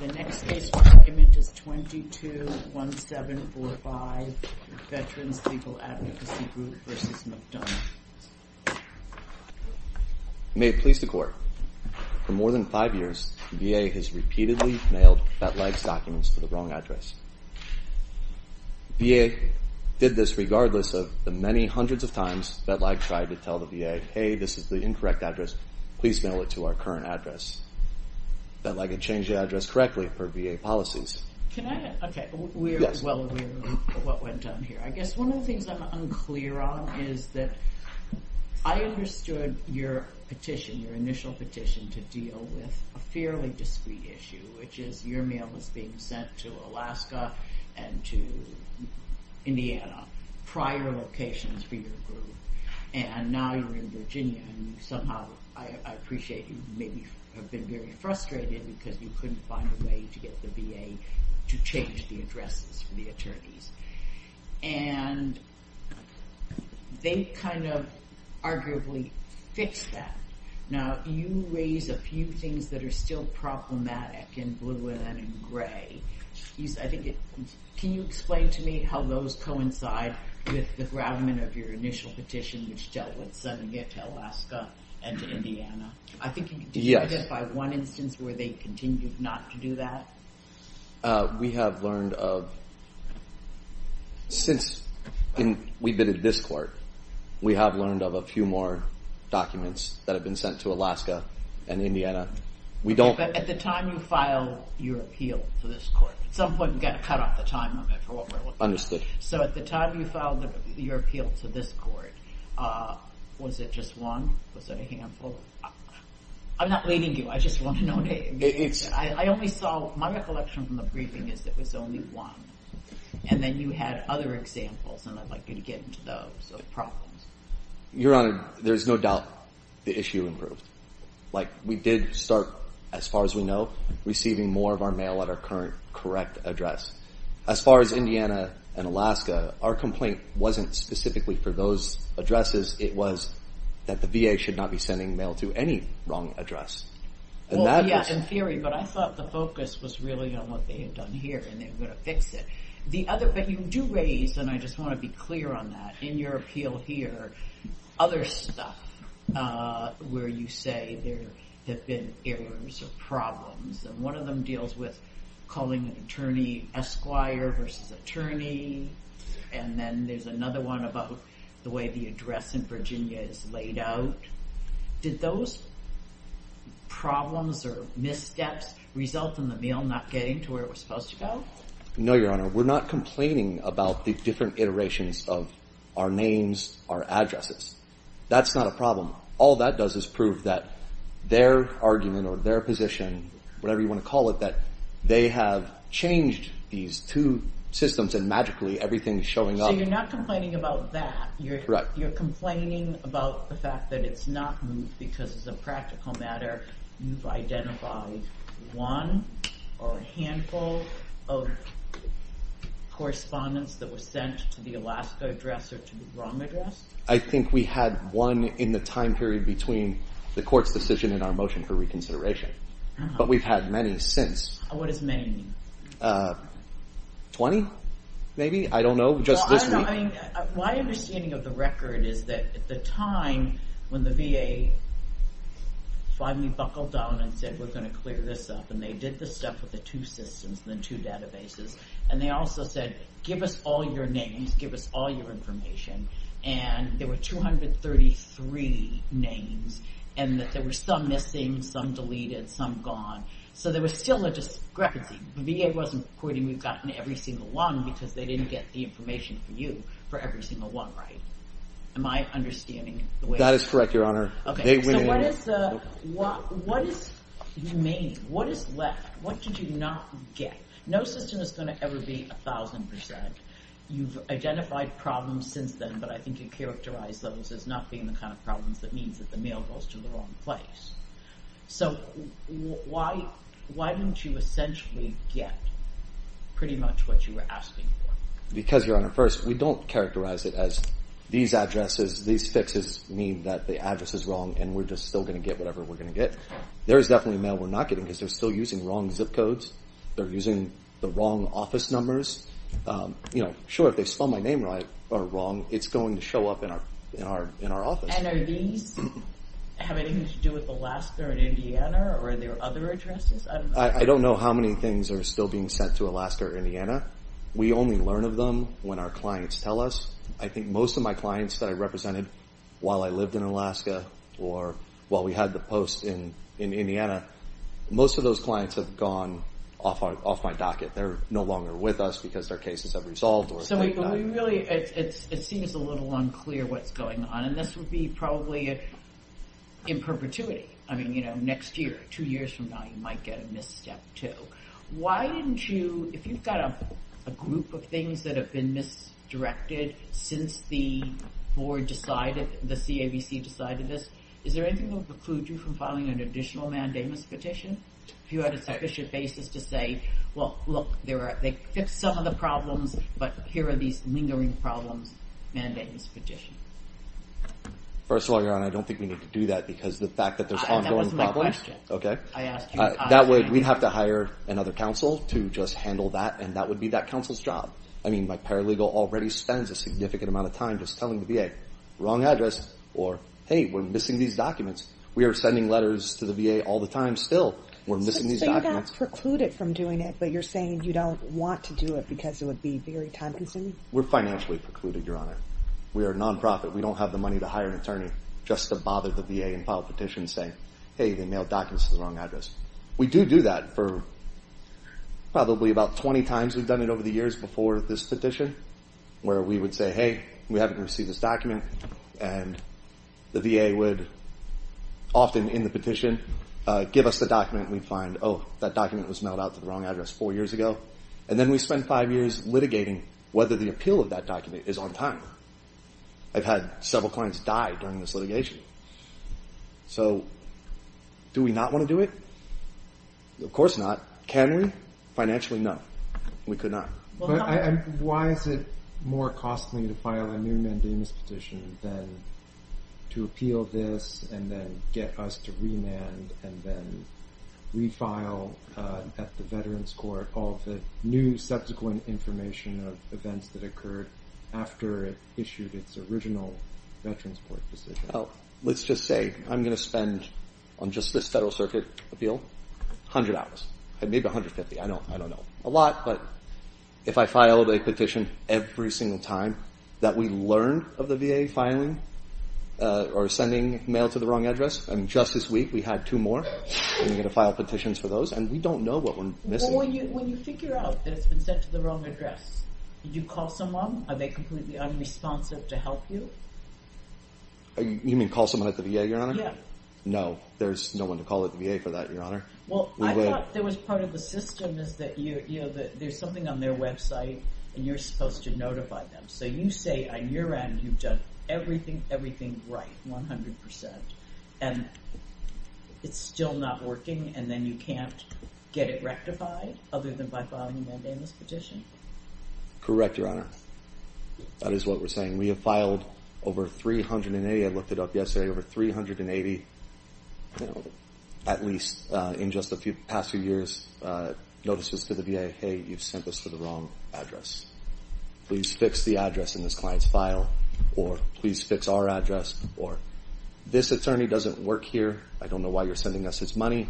The next case for argument is 22-1745 Veterans Legal Advocacy Group v. McDonough. May it please the Court, for more than five years, the VA has repeatedly mailed Vet-Lag's documents to the wrong address. The VA did this regardless of the many hundreds of times Vet-Lag tried to tell the VA, hey, this is the incorrect address, please mail it to our current address. Vet-Lag had changed the address correctly per VA policies. Can I, okay, we're well aware of what went on here. I guess one of the things I'm unclear on is that I understood your petition, your initial petition to deal with a fairly discreet issue, which is your mail was being sent to Alaska and to Indiana, prior locations for your group, and now you're in Virginia and somehow I appreciate that you maybe have been very frustrated because you couldn't find a way to get the VA to change the addresses for the attorneys. And they kind of arguably fixed that. Now you raise a few things that are still problematic in blue and in gray. I think it, can you explain to me how those coincide with the groundment of your initial I think you can describe it by one instance where they continued not to do that. We have learned of, since we've been at this court, we have learned of a few more documents that have been sent to Alaska and Indiana. We don't. At the time you filed your appeal to this court, at some point we've got to cut off the time limit for what we're looking at. Understood. So at the time you filed your appeal to this court, was it just one? Was it a handful? I'm not leading you. I just want to know. I only saw, my recollection from the briefing is that it was only one. And then you had other examples and I'd like you to get into those problems. Your Honor, there's no doubt the issue improved. Like we did start, as far as we know, receiving more of our mail at our current correct address. As far as Indiana and Alaska, our complaint wasn't specifically for those addresses. It was that the VA should not be sending mail to any wrong address. And that was... Well, yes, in theory. But I thought the focus was really on what they had done here and they were going to fix it. The other, but you do raise, and I just want to be clear on that, in your appeal here, other stuff where you say there have been errors or problems, and one of them deals with calling an attorney, esquire versus attorney, and then there's another one about the way the address in Virginia is laid out. Did those problems or missteps result in the mail not getting to where it was supposed to go? No, Your Honor. We're not complaining about the different iterations of our names, our addresses. That's not a problem. All that does is prove that their argument or their position, whatever you want to call it, that they have changed these two systems and magically everything's showing up. So you're not complaining about that. Correct. You're complaining about the fact that it's not moved because as a practical matter, you've identified one or a handful of correspondents that were sent to the Alaska address or to the wrong address? I think we had one in the time period between the court's decision and our motion for reconsideration. But we've had many since. What does many mean? Twenty, maybe? I don't know. Just this week? Well, I don't know. My understanding of the record is that at the time when the VA finally buckled down and said, we're going to clear this up, and they did the stuff with the two systems and the two databases, and they also said, give us all your names, give us all your information, and there were 233 names, and that there were some missing, some deleted, some gone. So there was still a discrepancy. The VA wasn't quoting, we've gotten every single one because they didn't get the information from you for every single one, right? Am I understanding the way? That is correct, Your Honor. Okay. So what is remaining? What is left? What did you not get? No system is going to ever be 1,000%. You've identified problems since then. But I think you characterized those as not being the kind of problems that means that the mail goes to the wrong place. So why don't you essentially get pretty much what you were asking for? Because Your Honor, first, we don't characterize it as these addresses, these fixes mean that the address is wrong and we're just still going to get whatever we're going to get. There is definitely mail we're not getting because they're still using wrong zip codes. They're using the wrong office numbers. Sure, if they spell my name right or wrong, it's going to show up in our office. And are these having anything to do with Alaska or Indiana or are there other addresses? I don't know how many things are still being sent to Alaska or Indiana. We only learn of them when our clients tell us. I think most of my clients that I represented while I lived in Alaska or while we had the post in Indiana, most of those clients have gone off my docket. They're no longer with us because their cases have resolved. So we really, it seems a little unclear what's going on and this would be probably in perpetuity. I mean, you know, next year, two years from now, you might get a misstep too. Why didn't you, if you've got a group of things that have been misdirected since the board decided, the CABC decided this, is there anything that would preclude you from filing an additional mandamus petition? If you had a sufficient basis to say, well, look, they fixed some of the problems, but here are these lingering problems, mandamus petition. First of all, Your Honor, I don't think we need to do that because the fact that there's ongoing problems. That wasn't my question. Okay. That way, we'd have to hire another counsel to just handle that and that would be that counsel's job. I mean, my paralegal already spends a significant amount of time just telling the VA, wrong address or, hey, we're missing these documents. We are sending letters to the VA all the time still. We're missing these documents. So you're not precluded from doing it, but you're saying you don't want to do it because it would be very time consuming? We're financially precluded, Your Honor. We are a nonprofit. We don't have the money to hire an attorney just to bother the VA and file a petition saying, hey, they mailed documents to the wrong address. We do do that for probably about 20 times. We've done it over the years before this petition where we would say, hey, we haven't received this document, and the VA would often in the petition give us the document. We'd find, oh, that document was mailed out to the wrong address four years ago, and then we spend five years litigating whether the appeal of that document is on time. I've had several clients die during this litigation. So do we not want to do it? Of course not. Can we? Financially, no. We could not. Why is it more costly to file a new mandamus petition than to appeal this and then get us to remand and then refile at the Veterans Court all the new subsequent information of events that occurred after it issued its original Veterans Court decision? Let's just say I'm going to spend on just this Federal Circuit appeal 100 hours, maybe 150. I don't know. A lot, but if I filed a petition every single time that we learned of the VA filing or sending mail to the wrong address, and just this week we had two more, and we had to file petitions for those, and we don't know what we're missing. When you figure out that it's been sent to the wrong address, did you call someone? Are they completely unresponsive to help you? You mean call someone at the VA, Your Honor? Yeah. No, there's no one to call at the VA for that, Your Honor. Well, I thought there was part of the system is that there's something on their website, and you're supposed to notify them. So you say on your end, you've done everything right, 100%, and it's still not working, and then you can't get it rectified other than by filing a mandamus petition? Correct, Your Honor. That is what we're saying. We have filed over 380. I looked it up yesterday. Over 380, at least in just the past few years, notices to the VA, hey, you've sent this to the wrong address. Please fix the address in this client's file, or please fix our address, or this attorney doesn't work here. I don't know why you're sending us his money.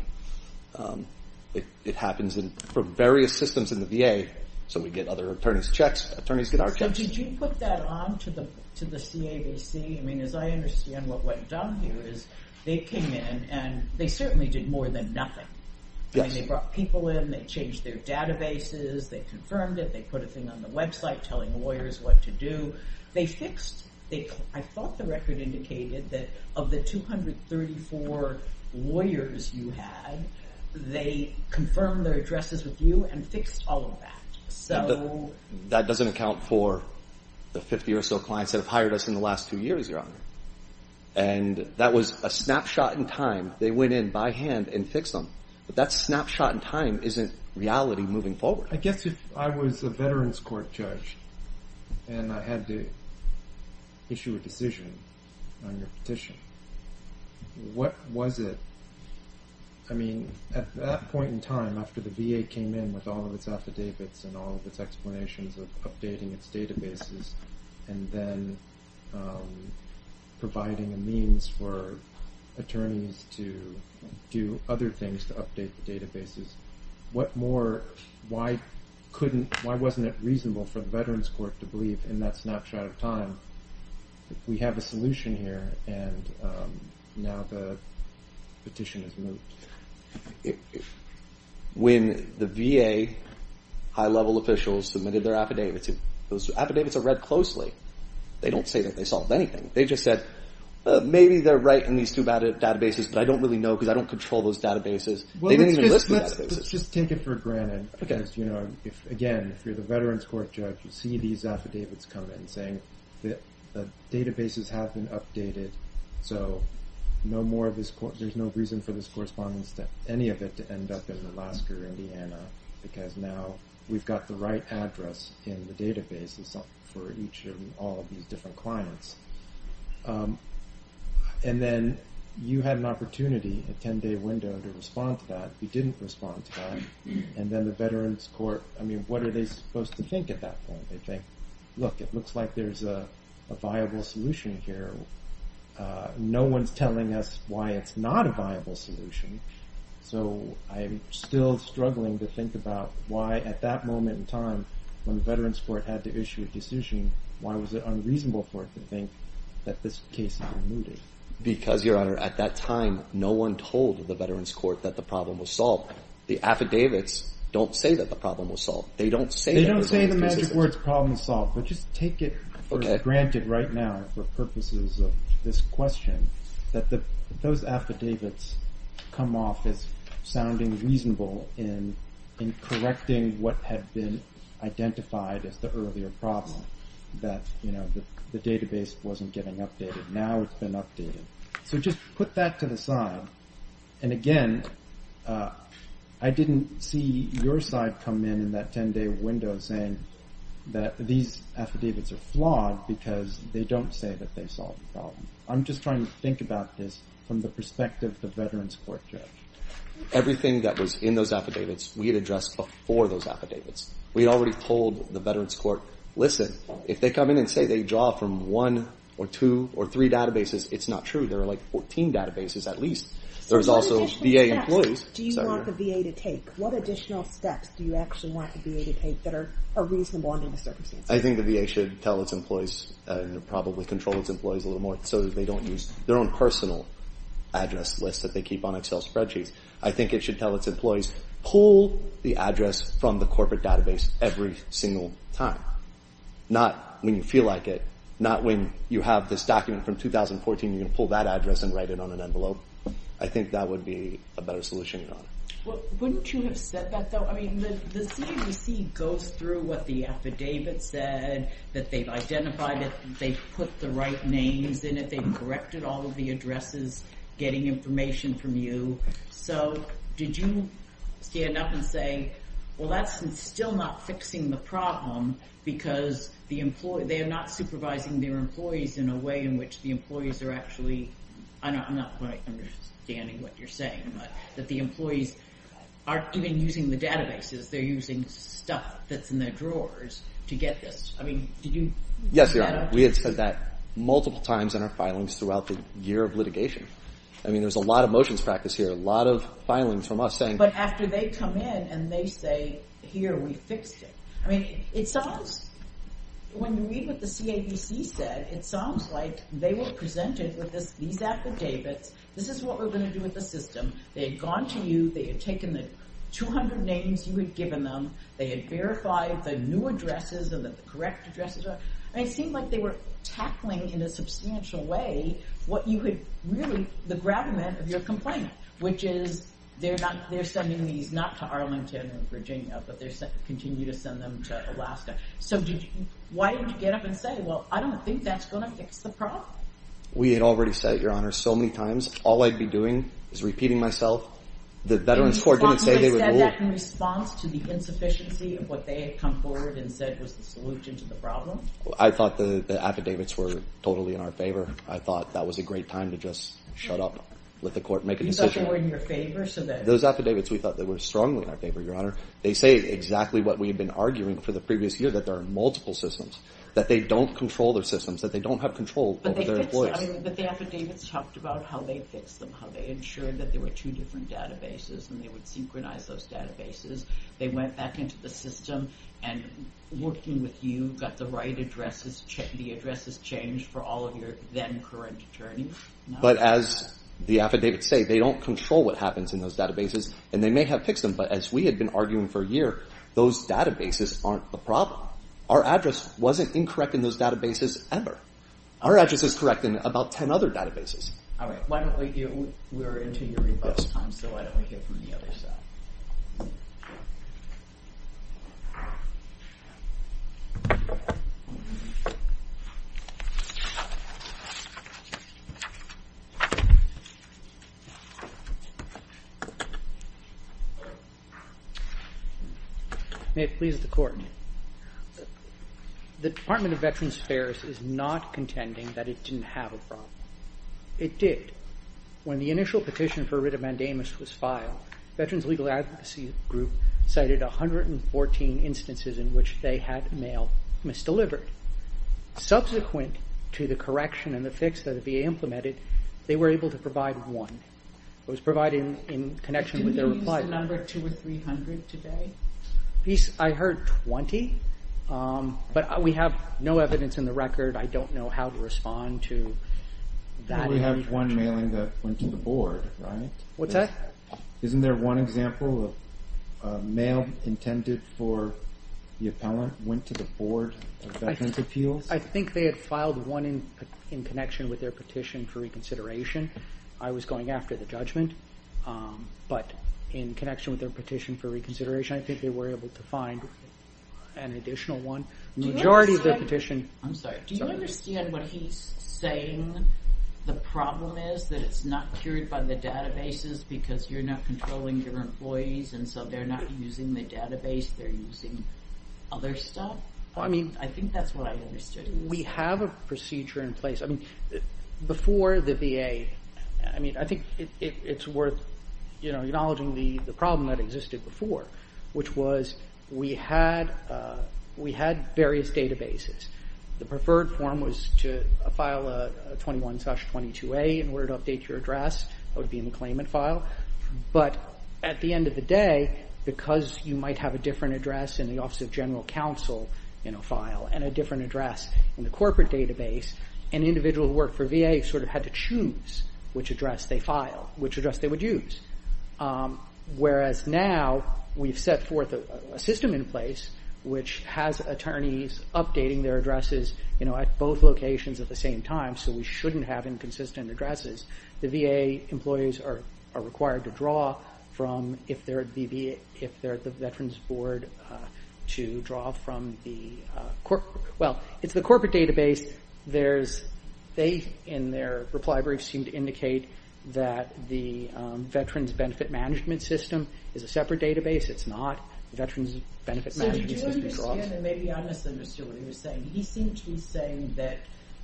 It happens for various systems in the VA, so we get other attorneys' checks. Attorneys get our checks. So did you put that on to the CAVC? I mean, as I understand what went down here is they came in, and they certainly did more than nothing. They brought people in. They changed their databases. They confirmed it. They put a thing on the website telling lawyers what to do. I thought the record indicated that of the 234 lawyers you had, they confirmed their addresses with you and fixed all of that. That doesn't account for the 50 or so clients that have hired us in the last two years, Your Honor. And that was a snapshot in time. They went in by hand and fixed them. But that snapshot in time isn't reality moving forward. I guess if I was a Veterans Court judge and I had to issue a decision on your petition, what was it? I mean, at that point in time, after the VA came in with all of its affidavits and all of its explanations of updating its databases and then providing a means for attorneys to do other things to update the databases, why wasn't it reasonable for the Veterans Court to believe in that snapshot of time? We have a solution here, and now the petition is moved. When the VA high-level officials submitted their affidavits, those affidavits are read closely. They don't say that they solved anything. They just said, maybe they're right in these two databases, but I don't really know because I don't control those databases. They didn't even list the databases. Let's just take it for granted. Again, if you're the Veterans Court judge, you see these affidavits come in saying that the databases have been updated, so there's no reason for this correspondence to any of it to end up in Alaska or Indiana because now we've got the right address in the databases for each and all of these different clients. And then you had an opportunity, a 10-day window, to respond to that. You didn't respond to that. And then the Veterans Court, I mean, what are they supposed to think at that point? They think, look, it looks like there's a viable solution here. No one's telling us why it's not a viable solution, so I'm still struggling to think about why at that moment in time, when the Veterans Court had to issue a decision, why was it unreasonable for it to think that this case is unmoving? Because, Your Honor, at that time, no one told the Veterans Court that the problem was solved. They don't say that. They don't say in the magic words problem solved, but just take it for granted right now for purposes of this question that those affidavits come off as sounding reasonable in correcting what had been identified as the earlier problem, that the database wasn't getting updated. Now it's been updated. So just put that to the side. And, again, I didn't see your side come in in that 10-day window saying that these affidavits are flawed because they don't say that they solved the problem. I'm just trying to think about this from the perspective of the Veterans Court judge. Everything that was in those affidavits we had addressed before those affidavits. We had already told the Veterans Court, listen, if they come in and say they draw from one or two or three databases, it's not true. There are, like, 14 databases at least. There's also VA employees. Do you want the VA to take? What additional steps do you actually want the VA to take that are reasonable under the circumstances? I think the VA should tell its employees and probably control its employees a little more so that they don't use their own personal address list that they keep on Excel spreadsheets. I think it should tell its employees pull the address from the corporate database every single time, not when you feel like it, not when you have this document from 2014 and you're going to pull that address and write it on an envelope. I think that would be a better solution, Your Honor. Wouldn't you have said that, though? I mean, the CNBC goes through what the affidavit said, that they've identified it, they've put the right names in it, they've corrected all of the addresses, getting information from you. So did you stand up and say, well, that's still not fixing the problem because they are not supervising their employees in a way in which the employees are actually, I'm not quite understanding what you're saying, but that the employees aren't even using the databases. They're using stuff that's in their drawers to get this. Yes, Your Honor. We have said that multiple times in our filings throughout the year of litigation. I mean, there's a lot of motions practice here, a lot of filings from us saying. But after they come in and they say, here, we fixed it. I mean, it sounds, when you read what the CNBC said, it sounds like they were presented with these affidavits. This is what we're going to do with the system. They had gone to you. They had taken the 200 names you had given them. They had verified the new addresses and the correct addresses. And it seemed like they were tackling in a substantial way what you had really, the gravamen of your complaint, which is they're sending these not to Arlington or Virginia, but they continue to send them to Alaska. So why didn't you get up and say, well, I don't think that's going to fix the problem? We had already said it, Your Honor, so many times. All I'd be doing is repeating myself. The Veterans Court didn't say they would rule. You said that in response to the insufficiency of what they had come forward and said was the solution to the problem? I thought the affidavits were totally in our favor. I thought that was a great time to just shut up, let the court make a decision. You thought they were in your favor? Those affidavits, we thought they were strongly in our favor, Your Honor. They say exactly what we had been arguing for the previous year, that there are multiple systems, that they don't control their systems, that they don't have control over their employees. But the affidavits talked about how they fixed them, how they ensured that there were two different databases and they would synchronize those databases. They went back into the system and, working with you, got the right addresses, the addresses changed for all of your then-current attorneys. But as the affidavits say, they don't control what happens in those databases, and they may have fixed them, but as we had been arguing for a year, those databases aren't the problem. Our address wasn't incorrect in those databases ever. Our address is correct in about ten other databases. All right, why don't we do, we're into your rebuffs time, so why don't we hear from the other side. May it please the Court, The Department of Veterans Affairs is not contending that it didn't have a problem. It did. When the initial petition for writ of mandamus was filed, Veterans Legal Advocacy Group cited 114 instances in which they had mail misdelivered. Subsequent to the correction and the fix that the VA implemented, they were able to provide one. It was provided in connection with their reply. Is the number 200 or 300 today? I heard 20, but we have no evidence in the record. I don't know how to respond to that. We have one mailing that went to the Board, right? What's that? Isn't there one example of a mail intended for the appellant went to the Board of Veterans' Appeals? I think they had filed one in connection with their petition for reconsideration. I was going after the judgment, but in connection with their petition for reconsideration, I think they were able to find an additional one. Do you understand what he's saying? The problem is that it's not cured by the databases because you're not controlling your employees, and so they're not using the database. They're using other stuff? I think that's what I understood. We have a procedure in place. Before the VA, I think it's worth acknowledging the problem that existed before, which was we had various databases. The preferred form was to file a 21-22A in order to update your address. That would be in the claimant file. But at the end of the day, because you might have a different address in the Office of General Counsel file and a different address in the corporate database, an individual who worked for VA sort of had to choose which address they filed, which address they would use, whereas now we've set forth a system in place which has attorneys updating their addresses at both locations at the same time so we shouldn't have inconsistent addresses. The VA employees are required to draw from, if they're at the Veterans Board, to draw from the corporate database. They, in their reply brief, seem to indicate that the Veterans Benefit Management System is a separate database. It's not. The Veterans Benefit Management System draws. Maybe I misunderstood what he was saying. He seemed to be saying that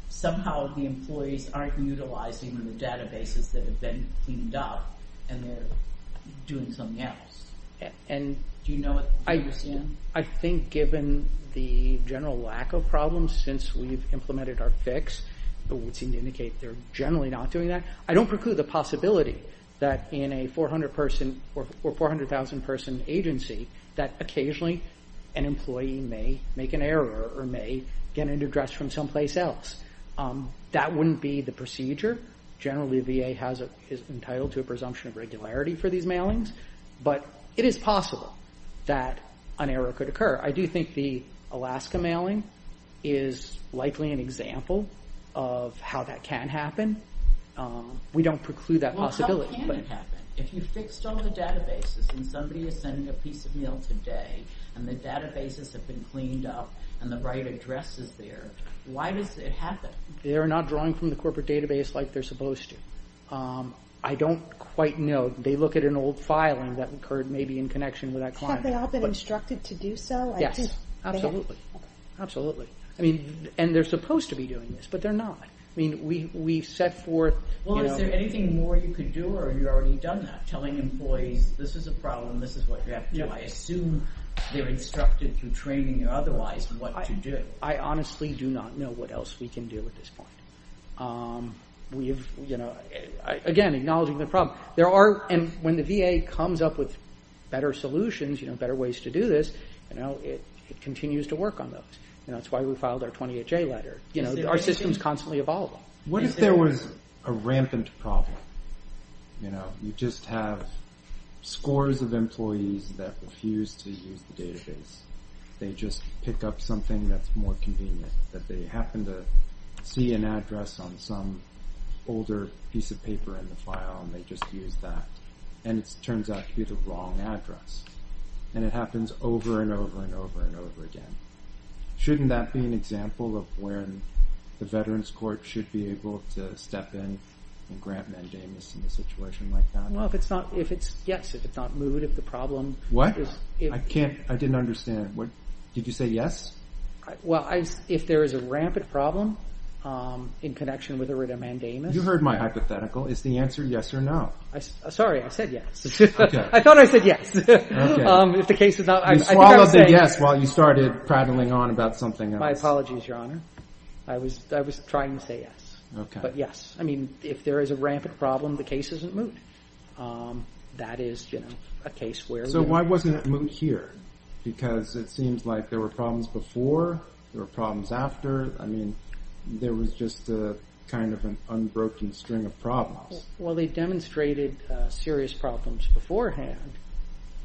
somehow the employees aren't utilizing the databases that have been cleaned up and they're doing something else. Do you know what he was saying? I think given the general lack of problems since we've implemented our fix, it would seem to indicate they're generally not doing that. I don't preclude the possibility that in a 400-person or 400,000-person agency that occasionally an employee may make an error or may get an address from someplace else. That wouldn't be the procedure. Generally, the VA is entitled to a presumption of regularity for these mailings, but it is possible that an error could occur. I do think the Alaska mailing is likely an example of how that can happen. We don't preclude that possibility. How can it happen? If you fixed all the databases and somebody is sending a piece of mail today and the databases have been cleaned up and the right address is there, why does it happen? They're not drawing from the corporate database like they're supposed to. I don't quite know. They look at an old filing that occurred maybe in connection with that client. Have they all been instructed to do so? Yes, absolutely. And they're supposed to be doing this, but they're not. We set forth— Well, is there anything more you could do, or have you already done that, telling employees this is a problem, this is what you have to do? I assume they're instructed through training or otherwise what to do. I honestly do not know what else we can do at this point. Again, acknowledging the problem. When the VA comes up with better solutions, better ways to do this, it continues to work on those. That's why we filed our 28-J letter. Our system is constantly evolving. What if there was a rampant problem? You just have scores of employees that refuse to use the database. They just pick up something that's more convenient, that they happen to see an address on some older piece of paper in the file, and they just use that, and it turns out to be the wrong address. And it happens over and over and over and over again. Shouldn't that be an example of when the Veterans Court should be able to step in and grant mandamus in a situation like that? Well, if it's not—yes, if it's not moot, if the problem is— Did you say yes? Well, if there is a rampant problem in connection with a written mandamus— You heard my hypothetical. Is the answer yes or no? Sorry, I said yes. Okay. I thought I said yes. Okay. If the case is not— You swallowed the yes while you started prattling on about something else. My apologies, Your Honor. I was trying to say yes. Okay. But yes. I mean, if there is a rampant problem, the case isn't moot. That is a case where— So why wasn't it moot here? Because it seems like there were problems before, there were problems after. I mean, there was just kind of an unbroken string of problems. Well, they demonstrated serious problems beforehand.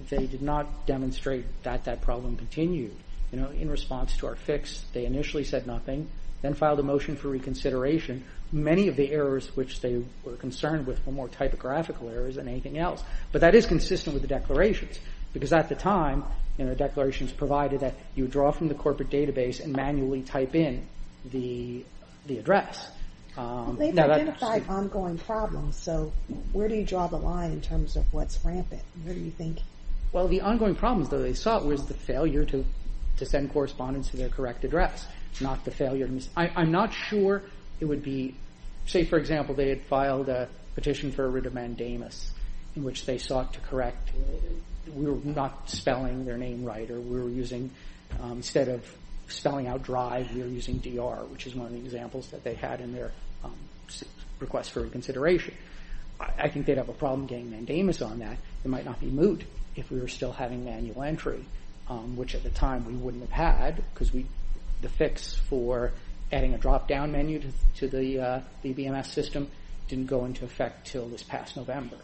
They did not demonstrate that that problem continued. In response to our fix, they initially said nothing, then filed a motion for reconsideration. Many of the errors which they were concerned with were more typographical errors than anything else. But that is consistent with the declarations because at the time, the declarations provided that you draw from the corporate database and manually type in the address. They've identified ongoing problems, so where do you draw the line in terms of what's rampant? Where do you think— Well, the ongoing problems, though, they sought, was the failure to send correspondence to their correct address, not the failure to— I'm not sure it would be— Say, for example, they had filed a petition for a writ of mandamus in which they sought to correct— we were not spelling their name right or we were using— instead of spelling out drive, we were using DR, which is one of the examples that they had in their request for reconsideration. I think they'd have a problem getting mandamus on that. It might not be moot if we were still having manual entry, which at the time we wouldn't have had because the fix for adding a drop-down menu to the BBMS system didn't go into effect until this past November.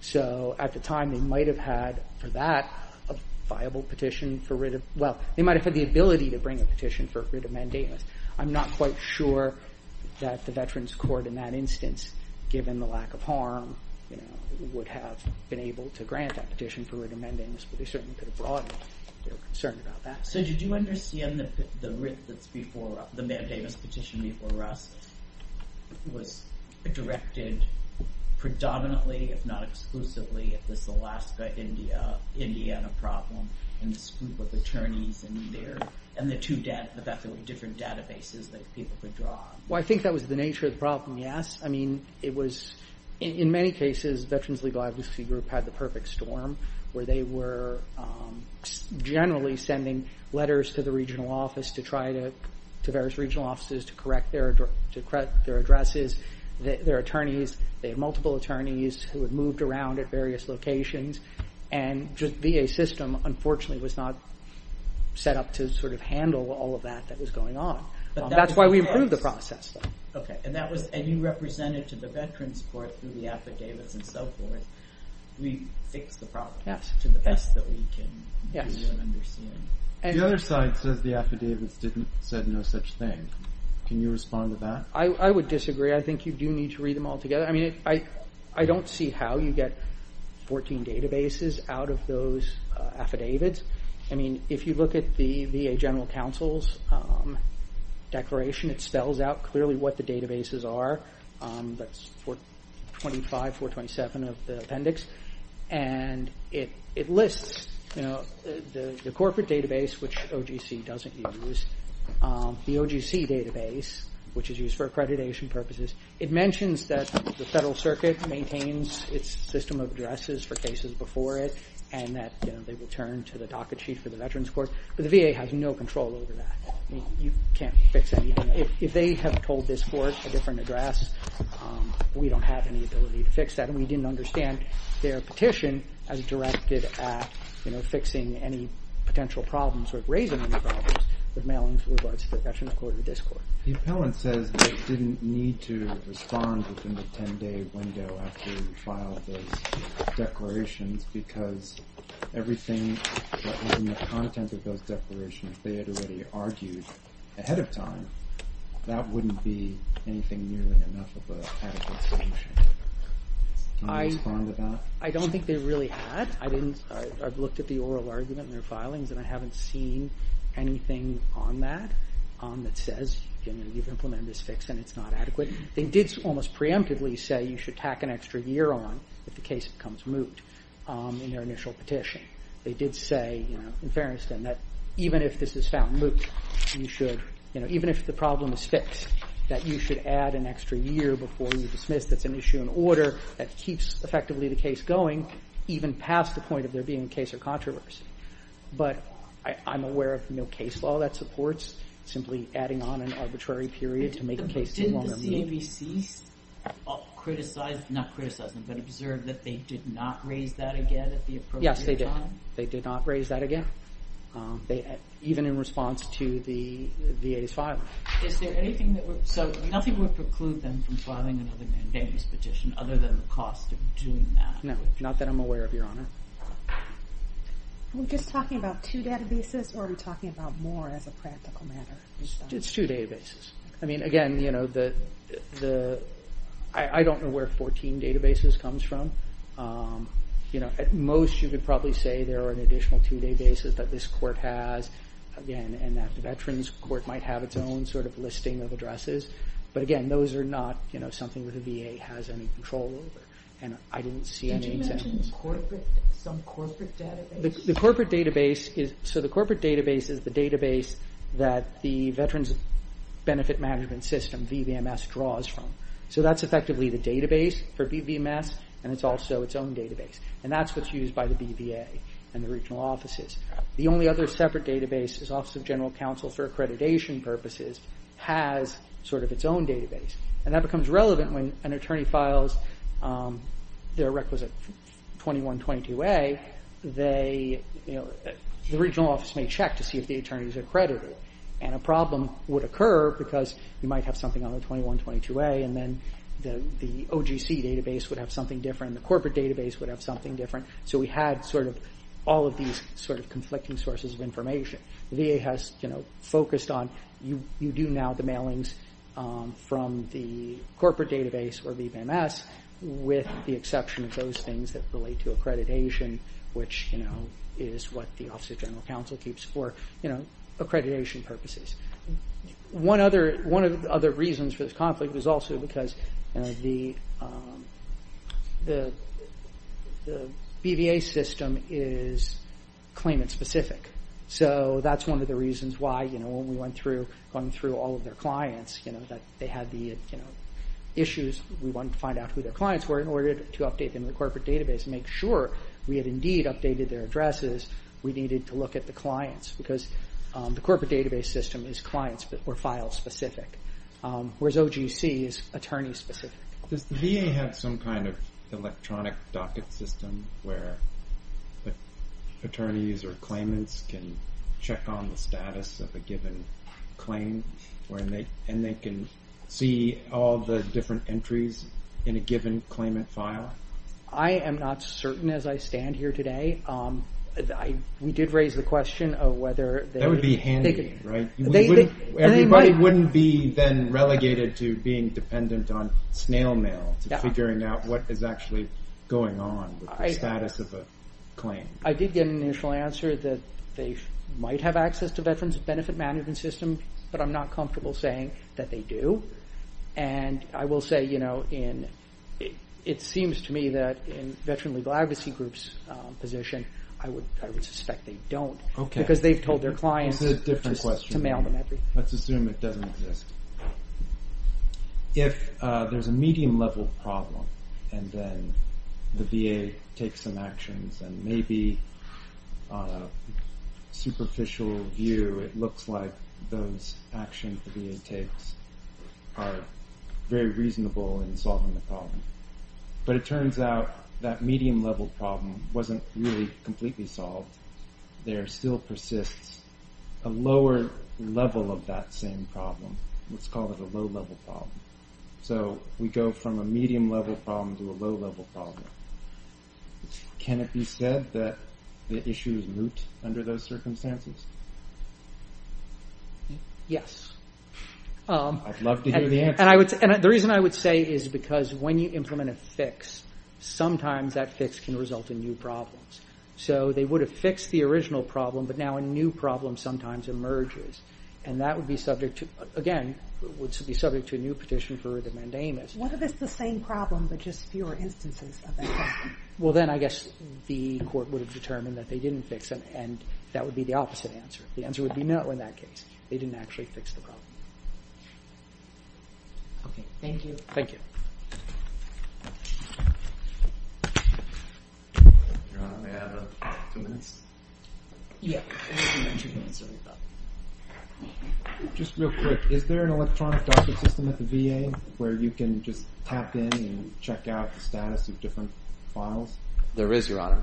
So at the time, they might have had, for that, a viable petition for writ of— well, they might have had the ability to bring a petition for a writ of mandamus. I'm not quite sure that the Veterans Court in that instance, given the lack of harm, would have been able to grant that petition for writ of mandamus, but they certainly could have brought it. They were concerned about that. So did you understand that the writ that's before— the mandamus petition before us was directed predominantly, if not exclusively, at this Alaska-Indiana problem and this group of attorneys and their— and the fact that there were different databases that people could draw on? Well, I think that was the nature of the problem, yes. I mean, it was— in many cases, Veterans Legal Advocacy Group had the perfect storm where they were generally sending letters to the regional office to try to—to various regional offices to correct their addresses. Their attorneys—they had multiple attorneys who had moved around at various locations. And VA system, unfortunately, was not set up to sort of handle all of that that was going on. That's why we approved the process, though. Okay, and that was—and you represented to the Veterans Court through the affidavits and so forth. We fixed the problem to the best that we can do and understand. The other side says the affidavits didn't—said no such thing. Can you respond to that? I would disagree. I think you do need to read them all together. I mean, I don't see how you get 14 databases out of those affidavits. I mean, if you look at the VA General Counsel's declaration, it spells out clearly what the databases are. That's 425, 427 of the appendix. And it lists the corporate database, which OGC doesn't use, the OGC database, which is used for accreditation purposes. It mentions that the Federal Circuit maintains its system of addresses for cases before it and that they return to the docket sheet for the Veterans Court. But the VA has no control over that. I mean, you can't fix anything. If they have told this court a different address, we don't have any ability to fix that. And we didn't understand their petition as directed at fixing any potential problems or raising any problems with mailings with regards to the Veterans Court or this court. The appellant says they didn't need to respond within the 10-day window after you filed those declarations because everything that was in the content of those declarations, they had already argued ahead of time, that wouldn't be anything near enough of an adequate solution. Do you respond to that? I don't think they really had. I've looked at the oral argument in their filings and I haven't seen anything on that that says you've implemented this fix and it's not adequate. They did almost preemptively say you should tack an extra year on if the case becomes moot in their initial petition. They did say, in fairness to them, that even if this is found moot, even if the problem is fixed, that you should add an extra year before you dismiss that's an issue in order, that keeps effectively the case going even past the point of there being a case or controversy. But I'm aware of no case law that supports simply adding on an arbitrary period to make the case longer moot. Did the CABC observe that they did not raise that again at the appropriate time? They did not raise that again, even in response to the VA's filing. So nothing would preclude them from filing another mandamus petition other than the cost of doing that? No, not that I'm aware of, Your Honor. Are we just talking about two databases or are we talking about more as a practical matter? It's two databases. Again, I don't know where 14 databases comes from. At most you could probably say there are an additional two databases that this court has, again, and that the Veterans Court might have its own sort of listing of addresses. But again, those are not something that the VA has any control over. And I didn't see any examples. Did you mention some corporate database? The corporate database is the database that the Veterans Benefit Management System, VVMS, draws from. So that's effectively the database for VVMS and it's also its own database. And that's what's used by the BVA and the regional offices. The only other separate database is Office of General Counsel for accreditation purposes has sort of its own database. And that becomes relevant when an attorney files their requisite 2122A. The regional office may check to see if the attorney is accredited. And a problem would occur because you might have something on the 2122A and then the OGC database would have something different and the corporate database would have something different. So we had sort of all of these sort of conflicting sources of information. The VA has focused on you do now the mailings from the corporate database or VVMS with the exception of those things that relate to accreditation, which is what the Office of General Counsel keeps for accreditation purposes. One of the other reasons for this conflict was also because the BVA system is claimant specific. So that's one of the reasons why when we went through all of their clients, they had the issues, we wanted to find out who their clients were in order to update them in the corporate database and make sure we had indeed updated their addresses. We needed to look at the clients because the corporate database system is client or file specific, whereas OGC is attorney specific. Does the VA have some kind of electronic docket system where attorneys or claimants can check on the status of a given claim and they can see all the different entries in a given claimant file? I am not certain as I stand here today. We did raise the question of whether- That would be handy, right? Everybody wouldn't be then relegated to being dependent on snail mail to figuring out what is actually going on with the status of a claim. I did get an initial answer that they might have access to Veterans Benefit Management System, but I'm not comfortable saying that they do. I will say it seems to me that in Veteran Legal Advocacy Group's position, I would suspect they don't because they've told their clients to mail them everything. Let's assume it doesn't exist. If there's a medium level problem and then the VA takes some actions and maybe on a superficial view it looks like those actions the VA takes are very reasonable in solving the problem. But it turns out that medium level problem wasn't really completely solved. There still persists a lower level of that same problem. Let's call it a low level problem. We go from a medium level problem to a low level problem. Can it be said that the issue is moot under those circumstances? Yes. I'd love to hear the answer. The reason I would say is because when you implement a fix, sometimes that fix can result in new problems. They would have fixed the original problem, but now a new problem sometimes emerges. That would be subject to a new petition for the mandamus. What if it's the same problem but just fewer instances of that problem? Well, then I guess the court would have determined that they didn't fix it and that would be the opposite answer. The answer would be no in that case. They didn't actually fix the problem. Okay, thank you. Thank you. Your Honor, may I have two minutes? Yes. Just real quick, is there an electronic docket system at the VA where you can just tap in and check out the status of different files? There is, Your Honor.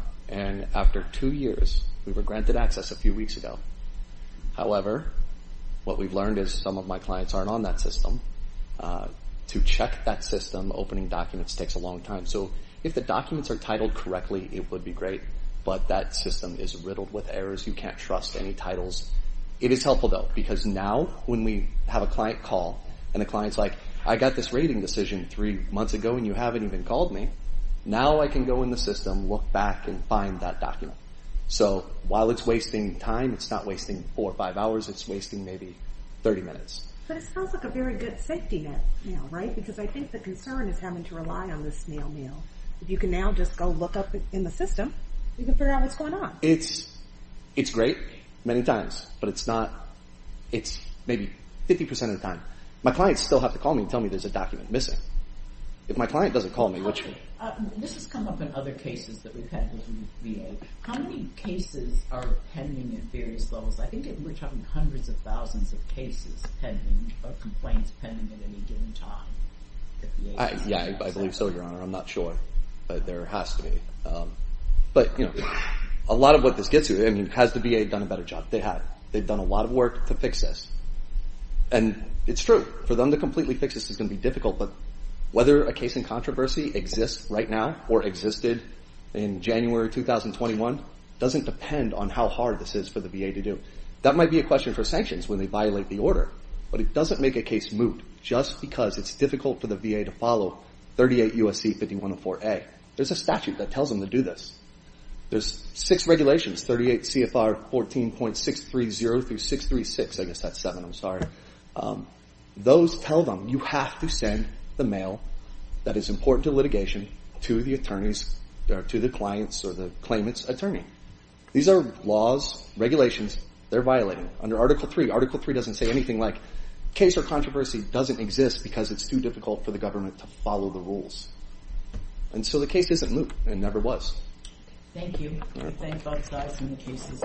After two years, we were granted access a few weeks ago. However, what we've learned is some of my clients aren't on that system. To check that system, opening documents takes a long time. If the documents are titled correctly, it would be great, but that system is riddled with errors. You can't trust any titles. It is helpful, though, because now when we have a client call and the client is like, I got this rating decision three months ago and you haven't even called me, now I can go in the system, look back, and find that document. So while it's wasting time, it's not wasting four or five hours. It's wasting maybe 30 minutes. But it sounds like a very good safety net, right? Because I think the concern is having to rely on this snail mail. If you can now just go look up in the system, you can figure out what's going on. It's great many times, but it's not. It's maybe 50% of the time. My clients still have to call me and tell me there's a document missing. If my client doesn't call me, what should I do? This has come up in other cases that we've had with VA. How many cases are pending at various levels? I think we're talking hundreds of thousands of cases pending or complaints pending at any given time. Yeah, I believe so, Your Honor. I'm not sure, but there has to be. But a lot of what this gets to, has the VA done a better job? They have. They've done a lot of work to fix this, and it's true. For them to completely fix this is going to be difficult, but whether a case in controversy exists right now or existed in January 2021 doesn't depend on how hard this is for the VA to do. That might be a question for sanctions when they violate the order, but it doesn't make a case moot just because it's difficult for the VA to follow 38 U.S.C. 5104a. There's a statute that tells them to do this. There's six regulations, 38 CFR 14.630 through 636. I guess that's seven. I'm sorry. Those tell them you have to send the mail that is important to litigation to the attorneys or to the clients or the claimant's attorney. These are laws, regulations. They're violating them. Under Article III, Article III doesn't say anything like, case or controversy doesn't exist because it's too difficult for the government to follow the rules. And so the case isn't moot. It never was. Thank you. We thank both sides for their cases.